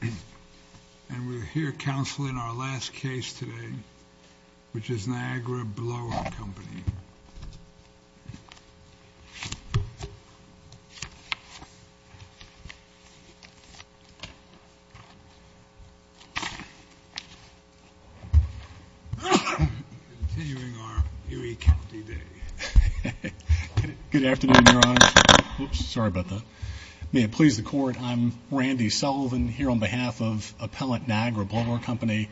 And we're here counseling our last case today, which is Niagara Blower Company. Continuing our Erie County Day. Good afternoon, Your Honor. Oops, sorry about that. May it please the Court, I'm Randy Sullivan here on behalf of appellant Niagara Blower Company.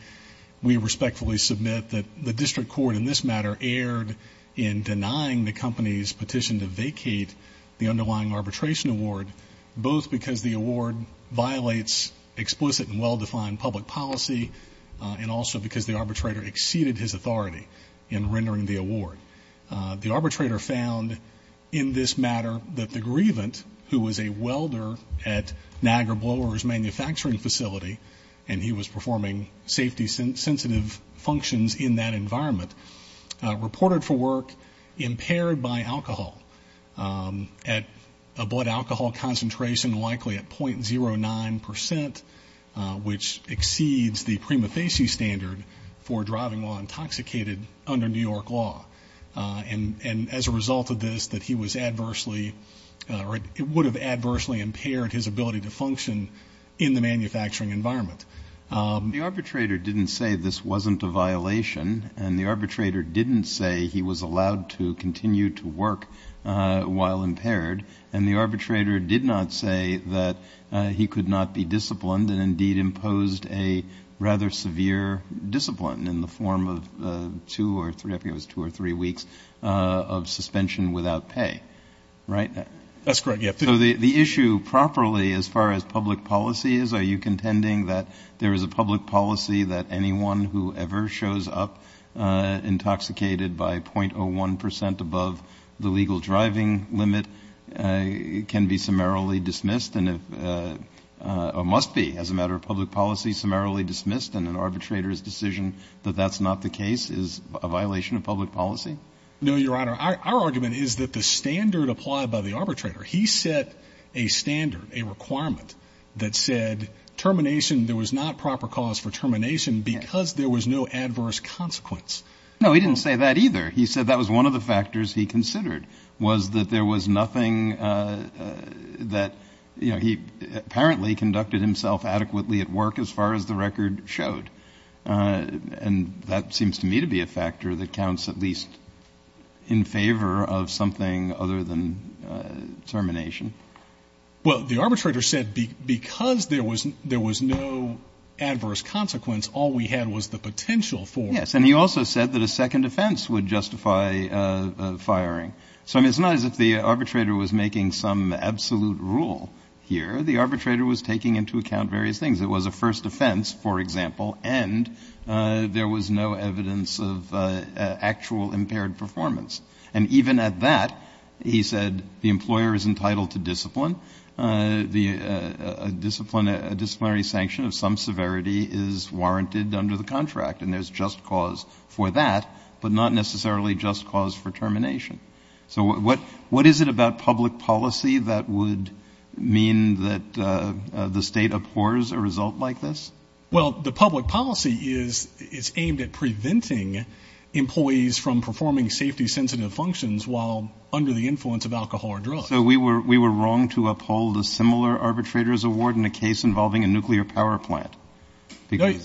We respectfully submit that the district court in this matter erred in denying the company's petition to vacate the underlying arbitration award, both because the award violates explicit and well-defined public policy, and also because the arbitrator exceeded his authority in rendering the award. The arbitrator found in this matter that the grievant, who was a welder at Niagara Blower's manufacturing facility, and he was performing safety-sensitive functions in that environment, reported for work impaired by alcohol, at a blood alcohol concentration likely at .09 percent, which exceeds the prima facie standard for driving while intoxicated under New York law. And as a result of this, that he was adversely or would have adversely impaired his ability to function in the manufacturing environment. The arbitrator didn't say this wasn't a violation, and the arbitrator didn't say he was allowed to continue to work while impaired, and the arbitrator did not say that he could not be disciplined and indeed imposed a rather severe discipline in the form of two or three weeks of suspension without pay. Right? That's correct, yes. So the issue properly as far as public policy is, are you contending that there is a public policy that anyone who ever shows up intoxicated by .01 percent above the legal driving limit can be summarily dismissed or must be, as a matter of public policy, summarily dismissed, and an arbitrator's decision that that's not the case is a violation of public policy? No, Your Honor. Our argument is that the standard applied by the arbitrator, he set a standard, a requirement that said termination, there was not proper cause for termination because there was no adverse consequence. No, he didn't say that either. He said that was one of the factors he considered was that there was nothing that, you know, he apparently conducted himself adequately at work as far as the record showed, and that seems to me to be a factor that counts at least in favor of something other than termination. Well, the arbitrator said because there was no adverse consequence, all we had was the potential for it. Yes, and he also said that a second offense would justify firing. So, I mean, it's not as if the arbitrator was making some absolute rule here. The arbitrator was taking into account various things. It was a first offense, for example, and there was no evidence of actual impaired performance. And even at that, he said the employer is entitled to discipline. A disciplinary sanction of some severity is warranted under the contract, and there's just cause for that, but not necessarily just cause for termination. So what is it about public policy that would mean that the state abhors a result like this? Well, the public policy is aimed at preventing employees from performing safety-sensitive functions while under the influence of alcohol or drugs. So we were wrong to uphold a similar arbitrator's award in a case involving a nuclear power plant?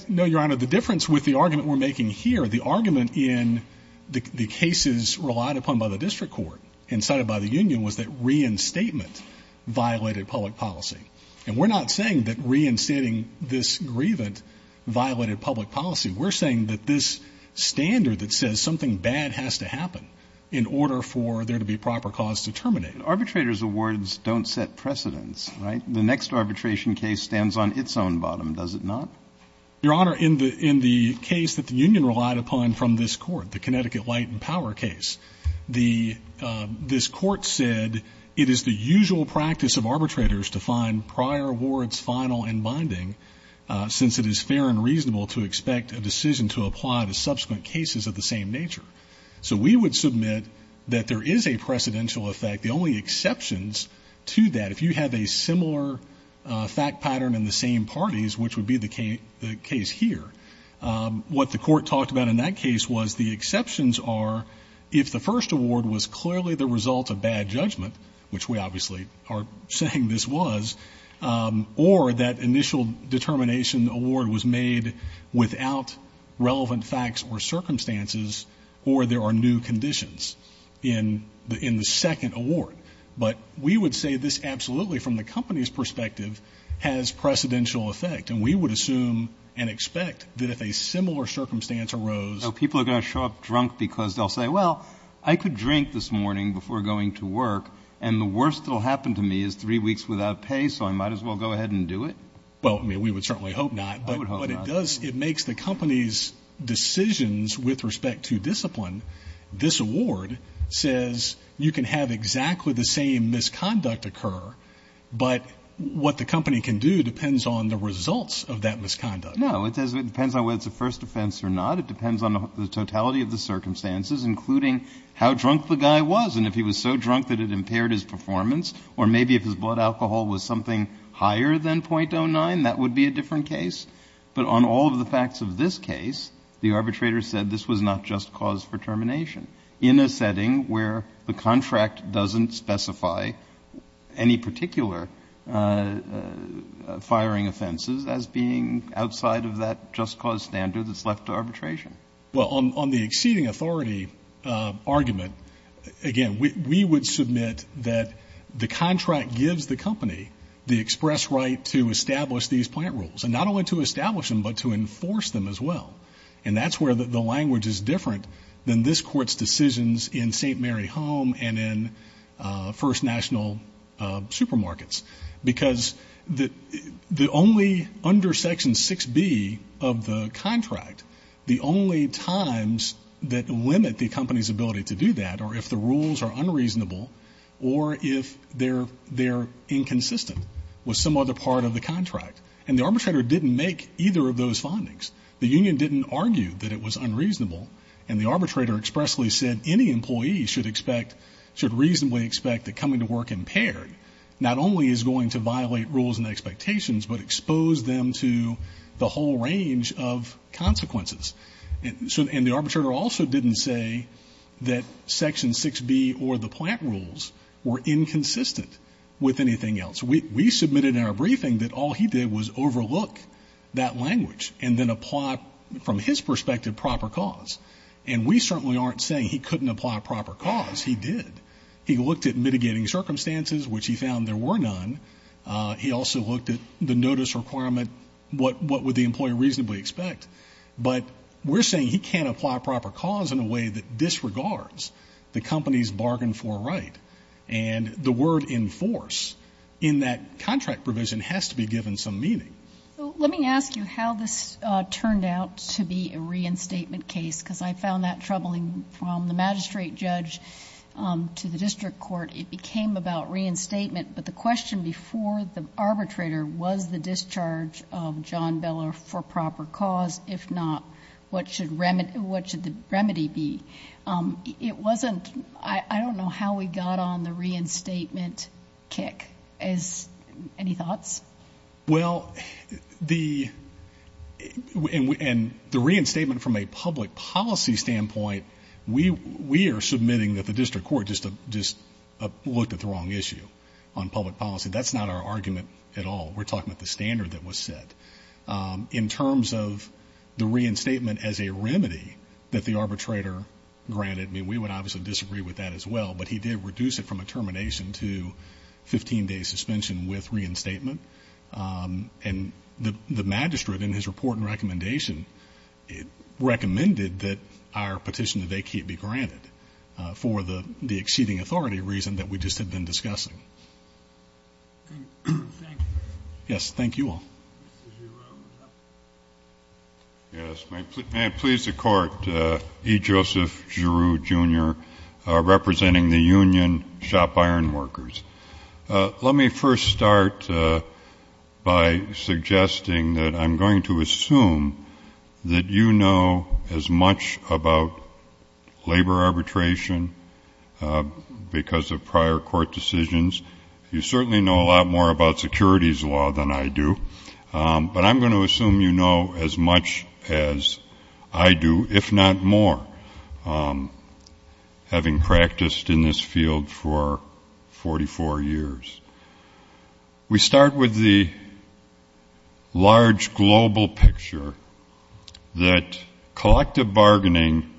No, Your Honor, the difference with the argument we're making here, the argument in the cases relied upon by the district court and cited by the union, was that reinstatement violated public policy. And we're not saying that reinstating this grievance violated public policy. We're saying that this standard that says something bad has to happen in order for there to be proper cause to terminate. Arbitrators' awards don't set precedents, right? The next arbitration case stands on its own bottom, does it not? Your Honor, in the case that the union relied upon from this court, the Connecticut Light and Power case, this court said it is the usual practice of arbitrators to find prior awards final and binding since it is fair and reasonable to expect a decision to apply to subsequent cases of the same nature. So we would submit that there is a precedential effect. The only exceptions to that, if you have a similar fact pattern in the same parties, which would be the case here, what the court talked about in that case was the exceptions are if the first award was clearly the result of bad judgment, which we obviously are saying this was, or that initial determination award was made without relevant facts or circumstances, or there are new conditions in the second award. But we would say this absolutely, from the company's perspective, has precedential effect. And we would assume and expect that if a similar circumstance arose. So people are going to show up drunk because they'll say, well, I could drink this morning before going to work, and the worst that will happen to me is three weeks without pay, so I might as well go ahead and do it? Well, I mean, we would certainly hope not. I would hope not. But it makes the company's decisions with respect to discipline. This award says you can have exactly the same misconduct occur, but what the company can do depends on the results of that misconduct. No, it depends on whether it's a first offense or not. It depends on the totality of the circumstances, including how drunk the guy was and if he was so drunk that it impaired his performance, or maybe if his blood alcohol was something higher than .09, that would be a different case. But on all of the facts of this case, the arbitrator said this was not just cause for termination in a setting where the contract doesn't specify any particular firing offenses as being outside of that just cause standard that's left to arbitration. Well, on the exceeding authority argument, again, we would submit that the contract gives the company the express right to establish these plant rules, and not only to establish them, but to enforce them as well. And that's where the language is different than this Court's decisions in St. Mary Home and in First National Supermarkets, because the only under Section 6B of the contract, the only times that limit the company's ability to do that are if the rules are unreasonable or if they're inconsistent with some other part of the contract. And the arbitrator didn't make either of those findings. The union didn't argue that it was unreasonable, and the arbitrator expressly said any employee should reasonably expect that coming to work impaired not only is going to violate rules and expectations, but expose them to the whole range of consequences. And the arbitrator also didn't say that Section 6B or the plant rules were inconsistent with anything else. We submitted in our briefing that all he did was overlook that language and then apply, from his perspective, proper cause. And we certainly aren't saying he couldn't apply proper cause. He did. He looked at mitigating circumstances, which he found there were none. He also looked at the notice requirement, what would the employee reasonably expect. But we're saying he can't apply proper cause in a way that disregards the company's bargain for right and the word enforce in that contract provision has to be given some meaning. So let me ask you how this turned out to be a reinstatement case, because I found that troubling from the magistrate judge to the district court. It became about reinstatement. But the question before the arbitrator was the discharge of John Beller for proper cause. If not, what should the remedy be? It wasn't ñ I don't know how we got on the reinstatement kick. Any thoughts? Well, the ñ and the reinstatement from a public policy standpoint, we are submitting that the district court just looked at the wrong issue on public policy. That's not our argument at all. We're talking about the standard that was set. In terms of the reinstatement as a remedy that the arbitrator granted, I mean, we would obviously disagree with that as well, but he did reduce it from a termination to 15-day suspension with reinstatement. And the magistrate, in his report and recommendation, recommended that our petition today be granted for the exceeding authority reason that we just had been discussing. Thank you. Yes, thank you all. Mr. Giroux. Yes, may it please the Court, E. Joseph Giroux, Jr., representing the Union Shop Ironworkers. Let me first start by suggesting that I'm going to assume that you know as much about labor arbitration because of prior court decisions. You certainly know a lot more about securities law than I do, but I'm going to assume you know as much as I do, if not more, having practiced in this field for 44 years. We start with the large global picture that collective bargaining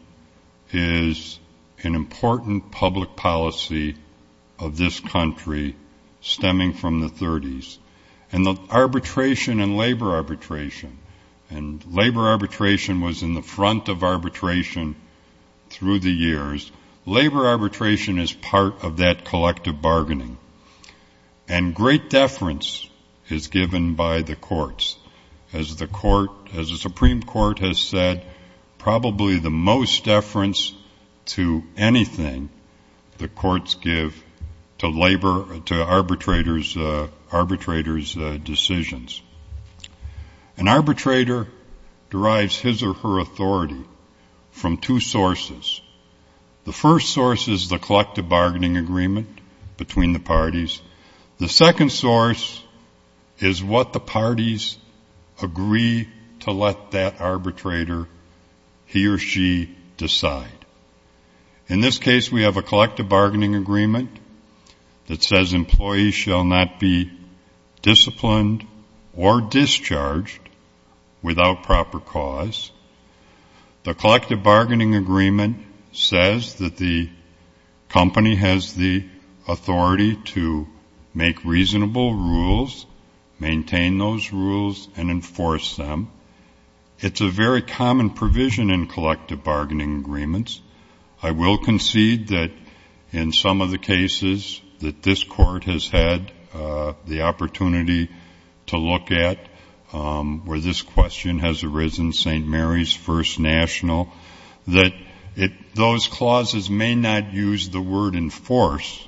is an important public policy of this country stemming from the 30s, and the arbitration and labor arbitration, and labor arbitration was in the front of arbitration through the years. Labor arbitration is part of that collective bargaining, and great deference is given by the courts. As the Supreme Court has said, probably the most deference to anything the courts give to arbitrators' decisions. An arbitrator derives his or her authority from two sources. The first source is the collective bargaining agreement between the parties. The second source is what the parties agree to let that arbitrator, he or she, decide. In this case, we have a collective bargaining agreement that says employees shall not be disciplined or discharged without proper cause. The collective bargaining agreement says that the company has the authority to make reasonable rules, maintain those rules, and enforce them. It's a very common provision in collective bargaining agreements. I will concede that in some of the cases that this court has had the opportunity to look at where this question has arisen, St. Mary's First National, that those clauses may not use the word enforce,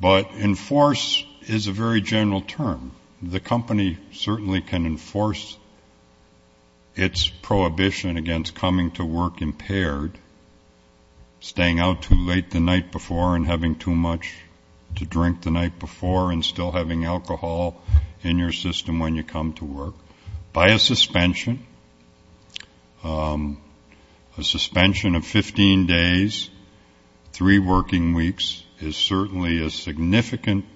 but enforce is a very general term. The company certainly can enforce its prohibition against coming to work impaired, staying out too late the night before and having too much to drink the night before and still having alcohol in your system when you come to work by a suspension. A suspension of 15 days, three working weeks is certainly a significant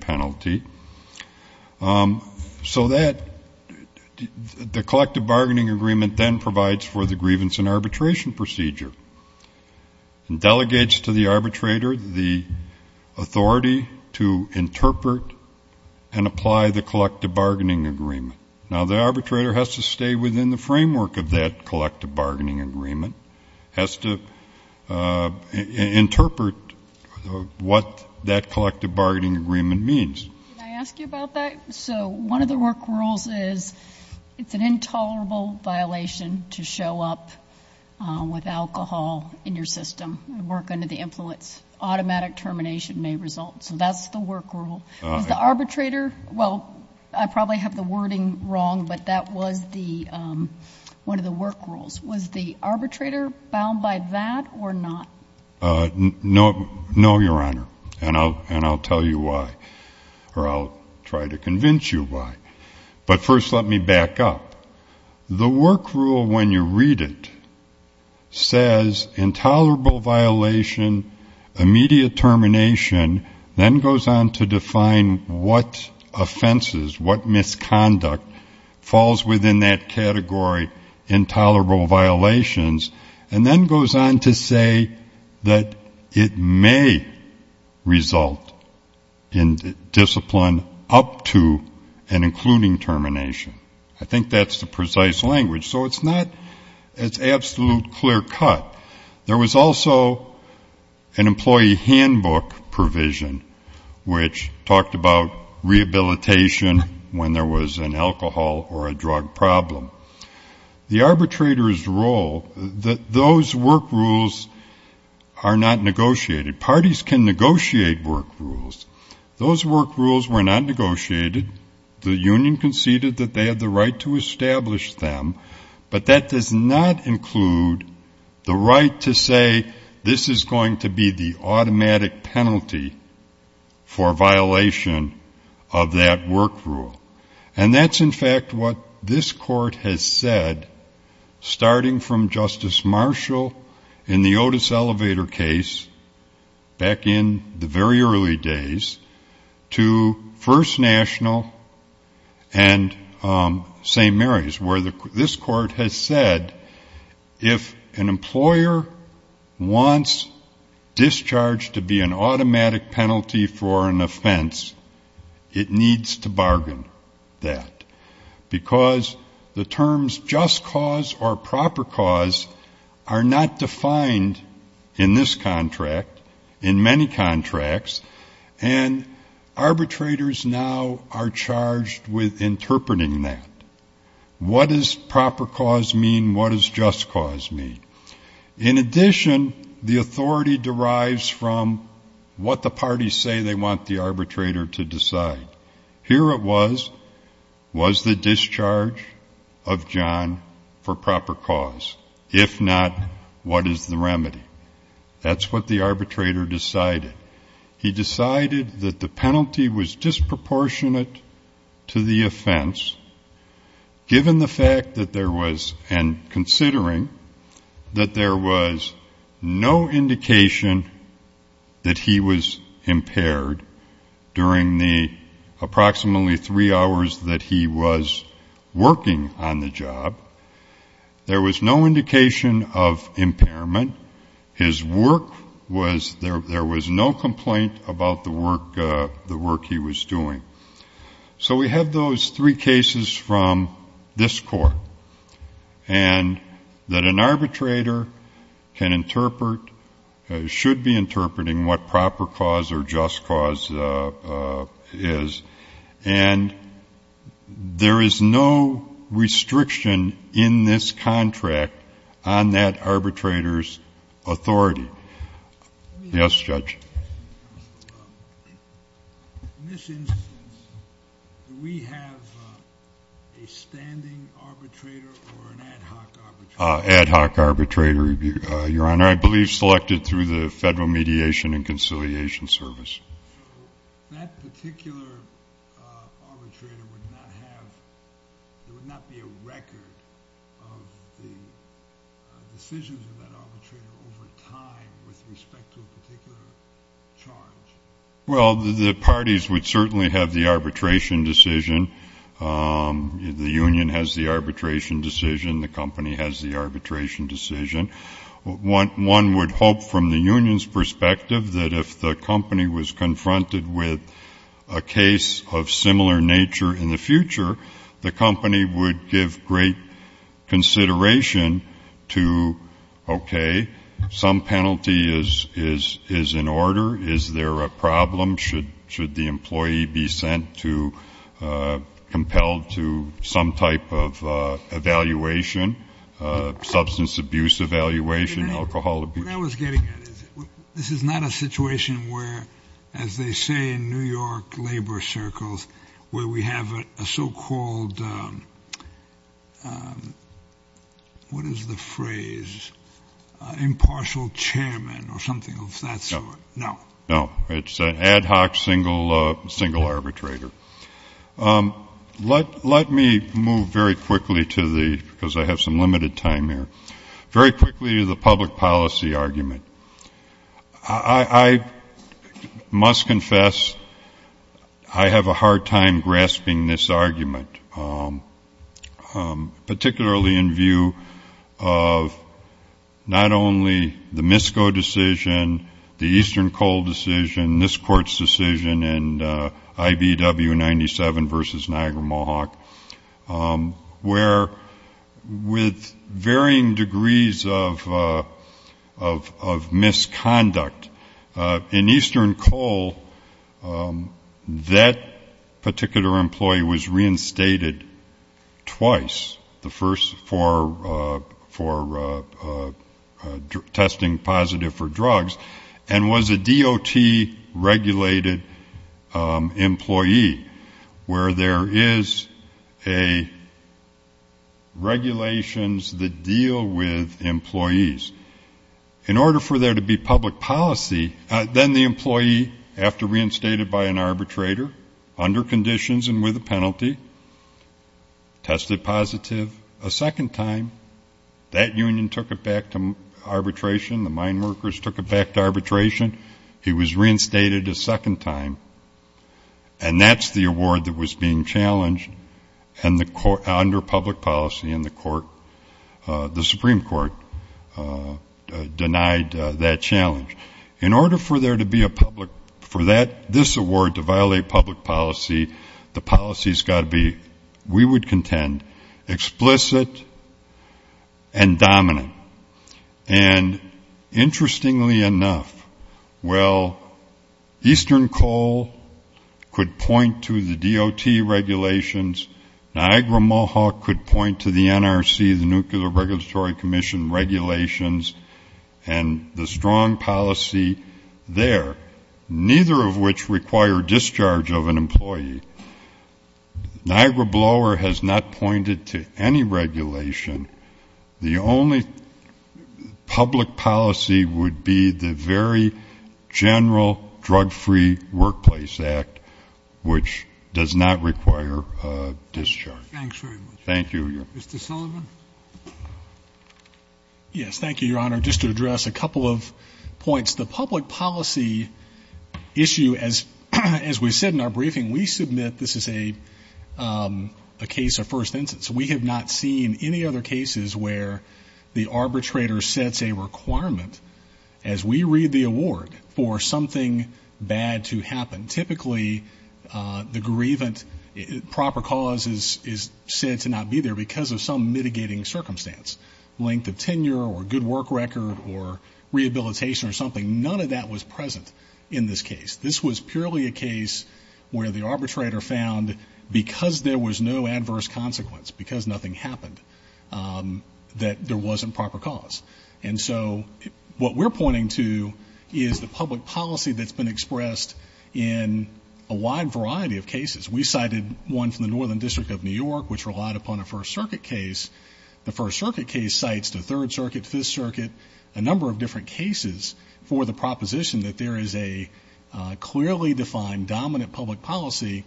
penalty. So that, the collective bargaining agreement then provides for the grievance and arbitration procedure and delegates to the arbitrator the authority to interpret and apply the collective bargaining agreement. Now, the arbitrator has to stay within the framework of that collective bargaining agreement, has to interpret what that collective bargaining agreement means. Can I ask you about that? So one of the work rules is it's an intolerable violation to show up with alcohol in your system and work under the influence. Automatic termination may result. So that's the work rule. Is the arbitrator, well, I probably have the wording wrong, but that was one of the work rules. Was the arbitrator bound by that or not? No, Your Honor, and I'll tell you why, or I'll try to convince you why. But first let me back up. The work rule, when you read it, says intolerable violation, immediate termination, then goes on to define what offenses, what misconduct falls within that category, intolerable violations, and then goes on to say that it may result in discipline up to and including termination. I think that's the precise language. So it's not an absolute clear cut. There was also an employee handbook provision which talked about rehabilitation when there was an alcohol or a drug problem. The arbitrator's role, those work rules are not negotiated. Parties can negotiate work rules. Those work rules were not negotiated. The union conceded that they had the right to establish them, but that does not include the right to say this is going to be the automatic penalty for violation of that work rule. And that's, in fact, what this Court has said starting from Justice Marshall in the Otis Elevator case back in the very early days to First National and St. Mary's where this Court has said if an employer wants discharge to be an automatic penalty for an offense, it needs to bargain that because the terms just cause or proper cause are not defined in this contract, in many contracts, and arbitrators now are charged with interpreting that. What does proper cause mean? What does just cause mean? In addition, the authority derives from what the parties say they want the arbitrator to decide. Here it was, was the discharge of John for proper cause? If not, what is the remedy? That's what the arbitrator decided. He decided that the penalty was disproportionate to the offense given the fact that there was, and considering that there was no indication that he was impaired during the approximately three hours that he was working on the job. There was no indication of impairment. His work was, there was no complaint about the work he was doing. So we have those three cases from this Court, and that an arbitrator can interpret, should be interpreting what proper cause or just cause is, and there is no restriction in this contract on that arbitrator's authority. Yes, Judge. In this instance, do we have a standing arbitrator or an ad hoc arbitrator? Ad hoc arbitrator, Your Honor, I believe selected through the Federal Mediation and Conciliation Service. So that particular arbitrator would not have, there would not be a record of the decisions of that arbitrator over time with respect to a particular charge? Well, the parties would certainly have the arbitration decision. The union has the arbitration decision. The company has the arbitration decision. One would hope from the union's perspective that if the company was confronted with a case of similar nature in the future, the company would give great consideration to, okay, some penalty is in order. Is there a problem? Should the employee be sent to, compelled to some type of evaluation, substance abuse evaluation, alcohol abuse? What I was getting at is this is not a situation where, as they say in New York labor circles, where we have a so-called, what is the phrase, impartial chairman or something of that sort. No. No. It's an ad hoc single arbitrator. Let me move very quickly to the, because I have some limited time here, very quickly to the public policy argument. I must confess I have a hard time grasping this argument, particularly in view of not only the MISCO decision, the Eastern Coal decision, this court's decision, and IBW 97 versus Niagara-Mohawk, where with varying degrees of misconduct, in Eastern Coal, that particular employee was reinstated twice. The first for testing positive for drugs, and was a DOT-regulated employee, where there is regulations that deal with employees. In order for there to be public policy, then the employee, after reinstated by an arbitrator, under conditions and with a penalty, tested positive a second time. That union took it back to arbitration. The mine workers took it back to arbitration. He was reinstated a second time. And that's the award that was being challenged under public policy, and the Supreme Court denied that challenge. In order for this award to violate public policy, the policy has got to be, we would contend, explicit and dominant. And interestingly enough, well, Eastern Coal could point to the DOT regulations. Niagara-Mohawk could point to the NRC, the Nuclear Regulatory Commission regulations. And the strong policy there, neither of which require discharge of an employee. Niagara Blower has not pointed to any regulation. The only public policy would be the very general Drug-Free Workplace Act, which does not require a discharge. Thank you. Mr. Sullivan? Yes, thank you, Your Honor. Just to address a couple of points. The public policy issue, as we said in our briefing, we submit this is a case of first instance. We have not seen any other cases where the arbitrator sets a requirement, as we read the award, for something bad to happen. And typically, the grievant proper cause is said to not be there because of some mitigating circumstance. Length of tenure or good work record or rehabilitation or something, none of that was present in this case. This was purely a case where the arbitrator found because there was no adverse consequence, because nothing happened, that there wasn't proper cause. And so what we're pointing to is the public policy that's been expressed in a wide variety of cases. We cited one from the Northern District of New York, which relied upon a First Circuit case. The First Circuit case cites the Third Circuit, Fifth Circuit, a number of different cases for the proposition that there is a clearly defined, dominant public policy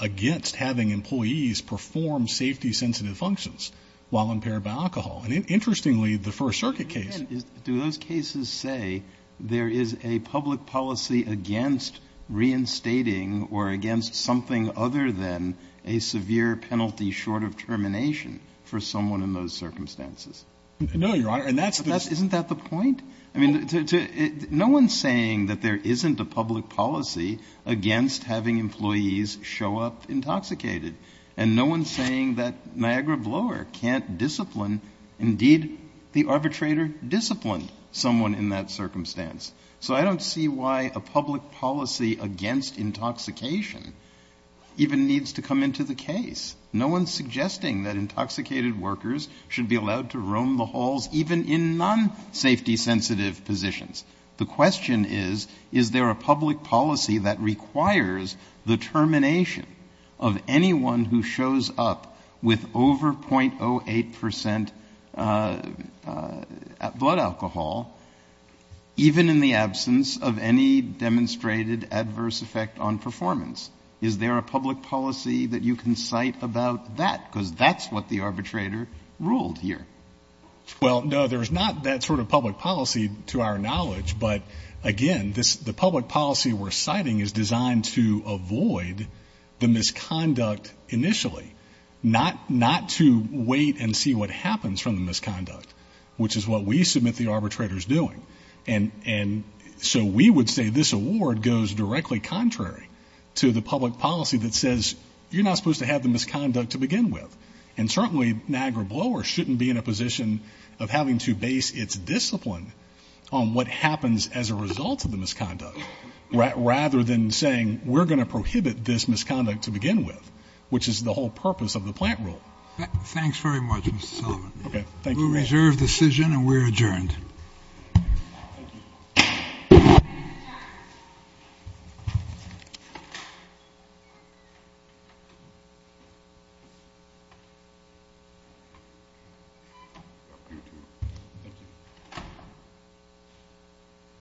against having employees perform safety-sensitive functions while impaired by alcohol. And interestingly, the First Circuit case. Kennedy, do those cases say there is a public policy against reinstating or against something other than a severe penalty short of termination for someone in those circumstances? No, Your Honor. And that's the question. Isn't that the point? I mean, no one is saying that there isn't a public policy against having employees show up intoxicated. And no one is saying that Niagara Blower can't discipline, indeed, the arbitrator disciplined someone in that circumstance. So I don't see why a public policy against intoxication even needs to come into the case. No one is suggesting that intoxicated workers should be allowed to roam the halls even in non-safety-sensitive positions. The question is, is there a public policy that requires the termination of anyone who shows up with over .08 percent blood alcohol even in the absence of any demonstrated adverse effect on performance? Is there a public policy that you can cite about that? Because that's what the arbitrator ruled here. Well, no, there's not that sort of public policy to our knowledge. But, again, the public policy we're citing is designed to avoid the misconduct initially, not to wait and see what happens from the misconduct, which is what we submit the arbitrator is doing. And so we would say this award goes directly contrary to the public policy that says you're not supposed to have the misconduct to begin with. And certainly Niagara Blower shouldn't be in a position of having to base its discipline on what happens as a result of the misconduct, rather than saying we're going to prohibit this misconduct to begin with, which is the whole purpose of the plant rule. Thanks very much, Mr. Sullivan. We reserve decision, and we're adjourned. Thank you.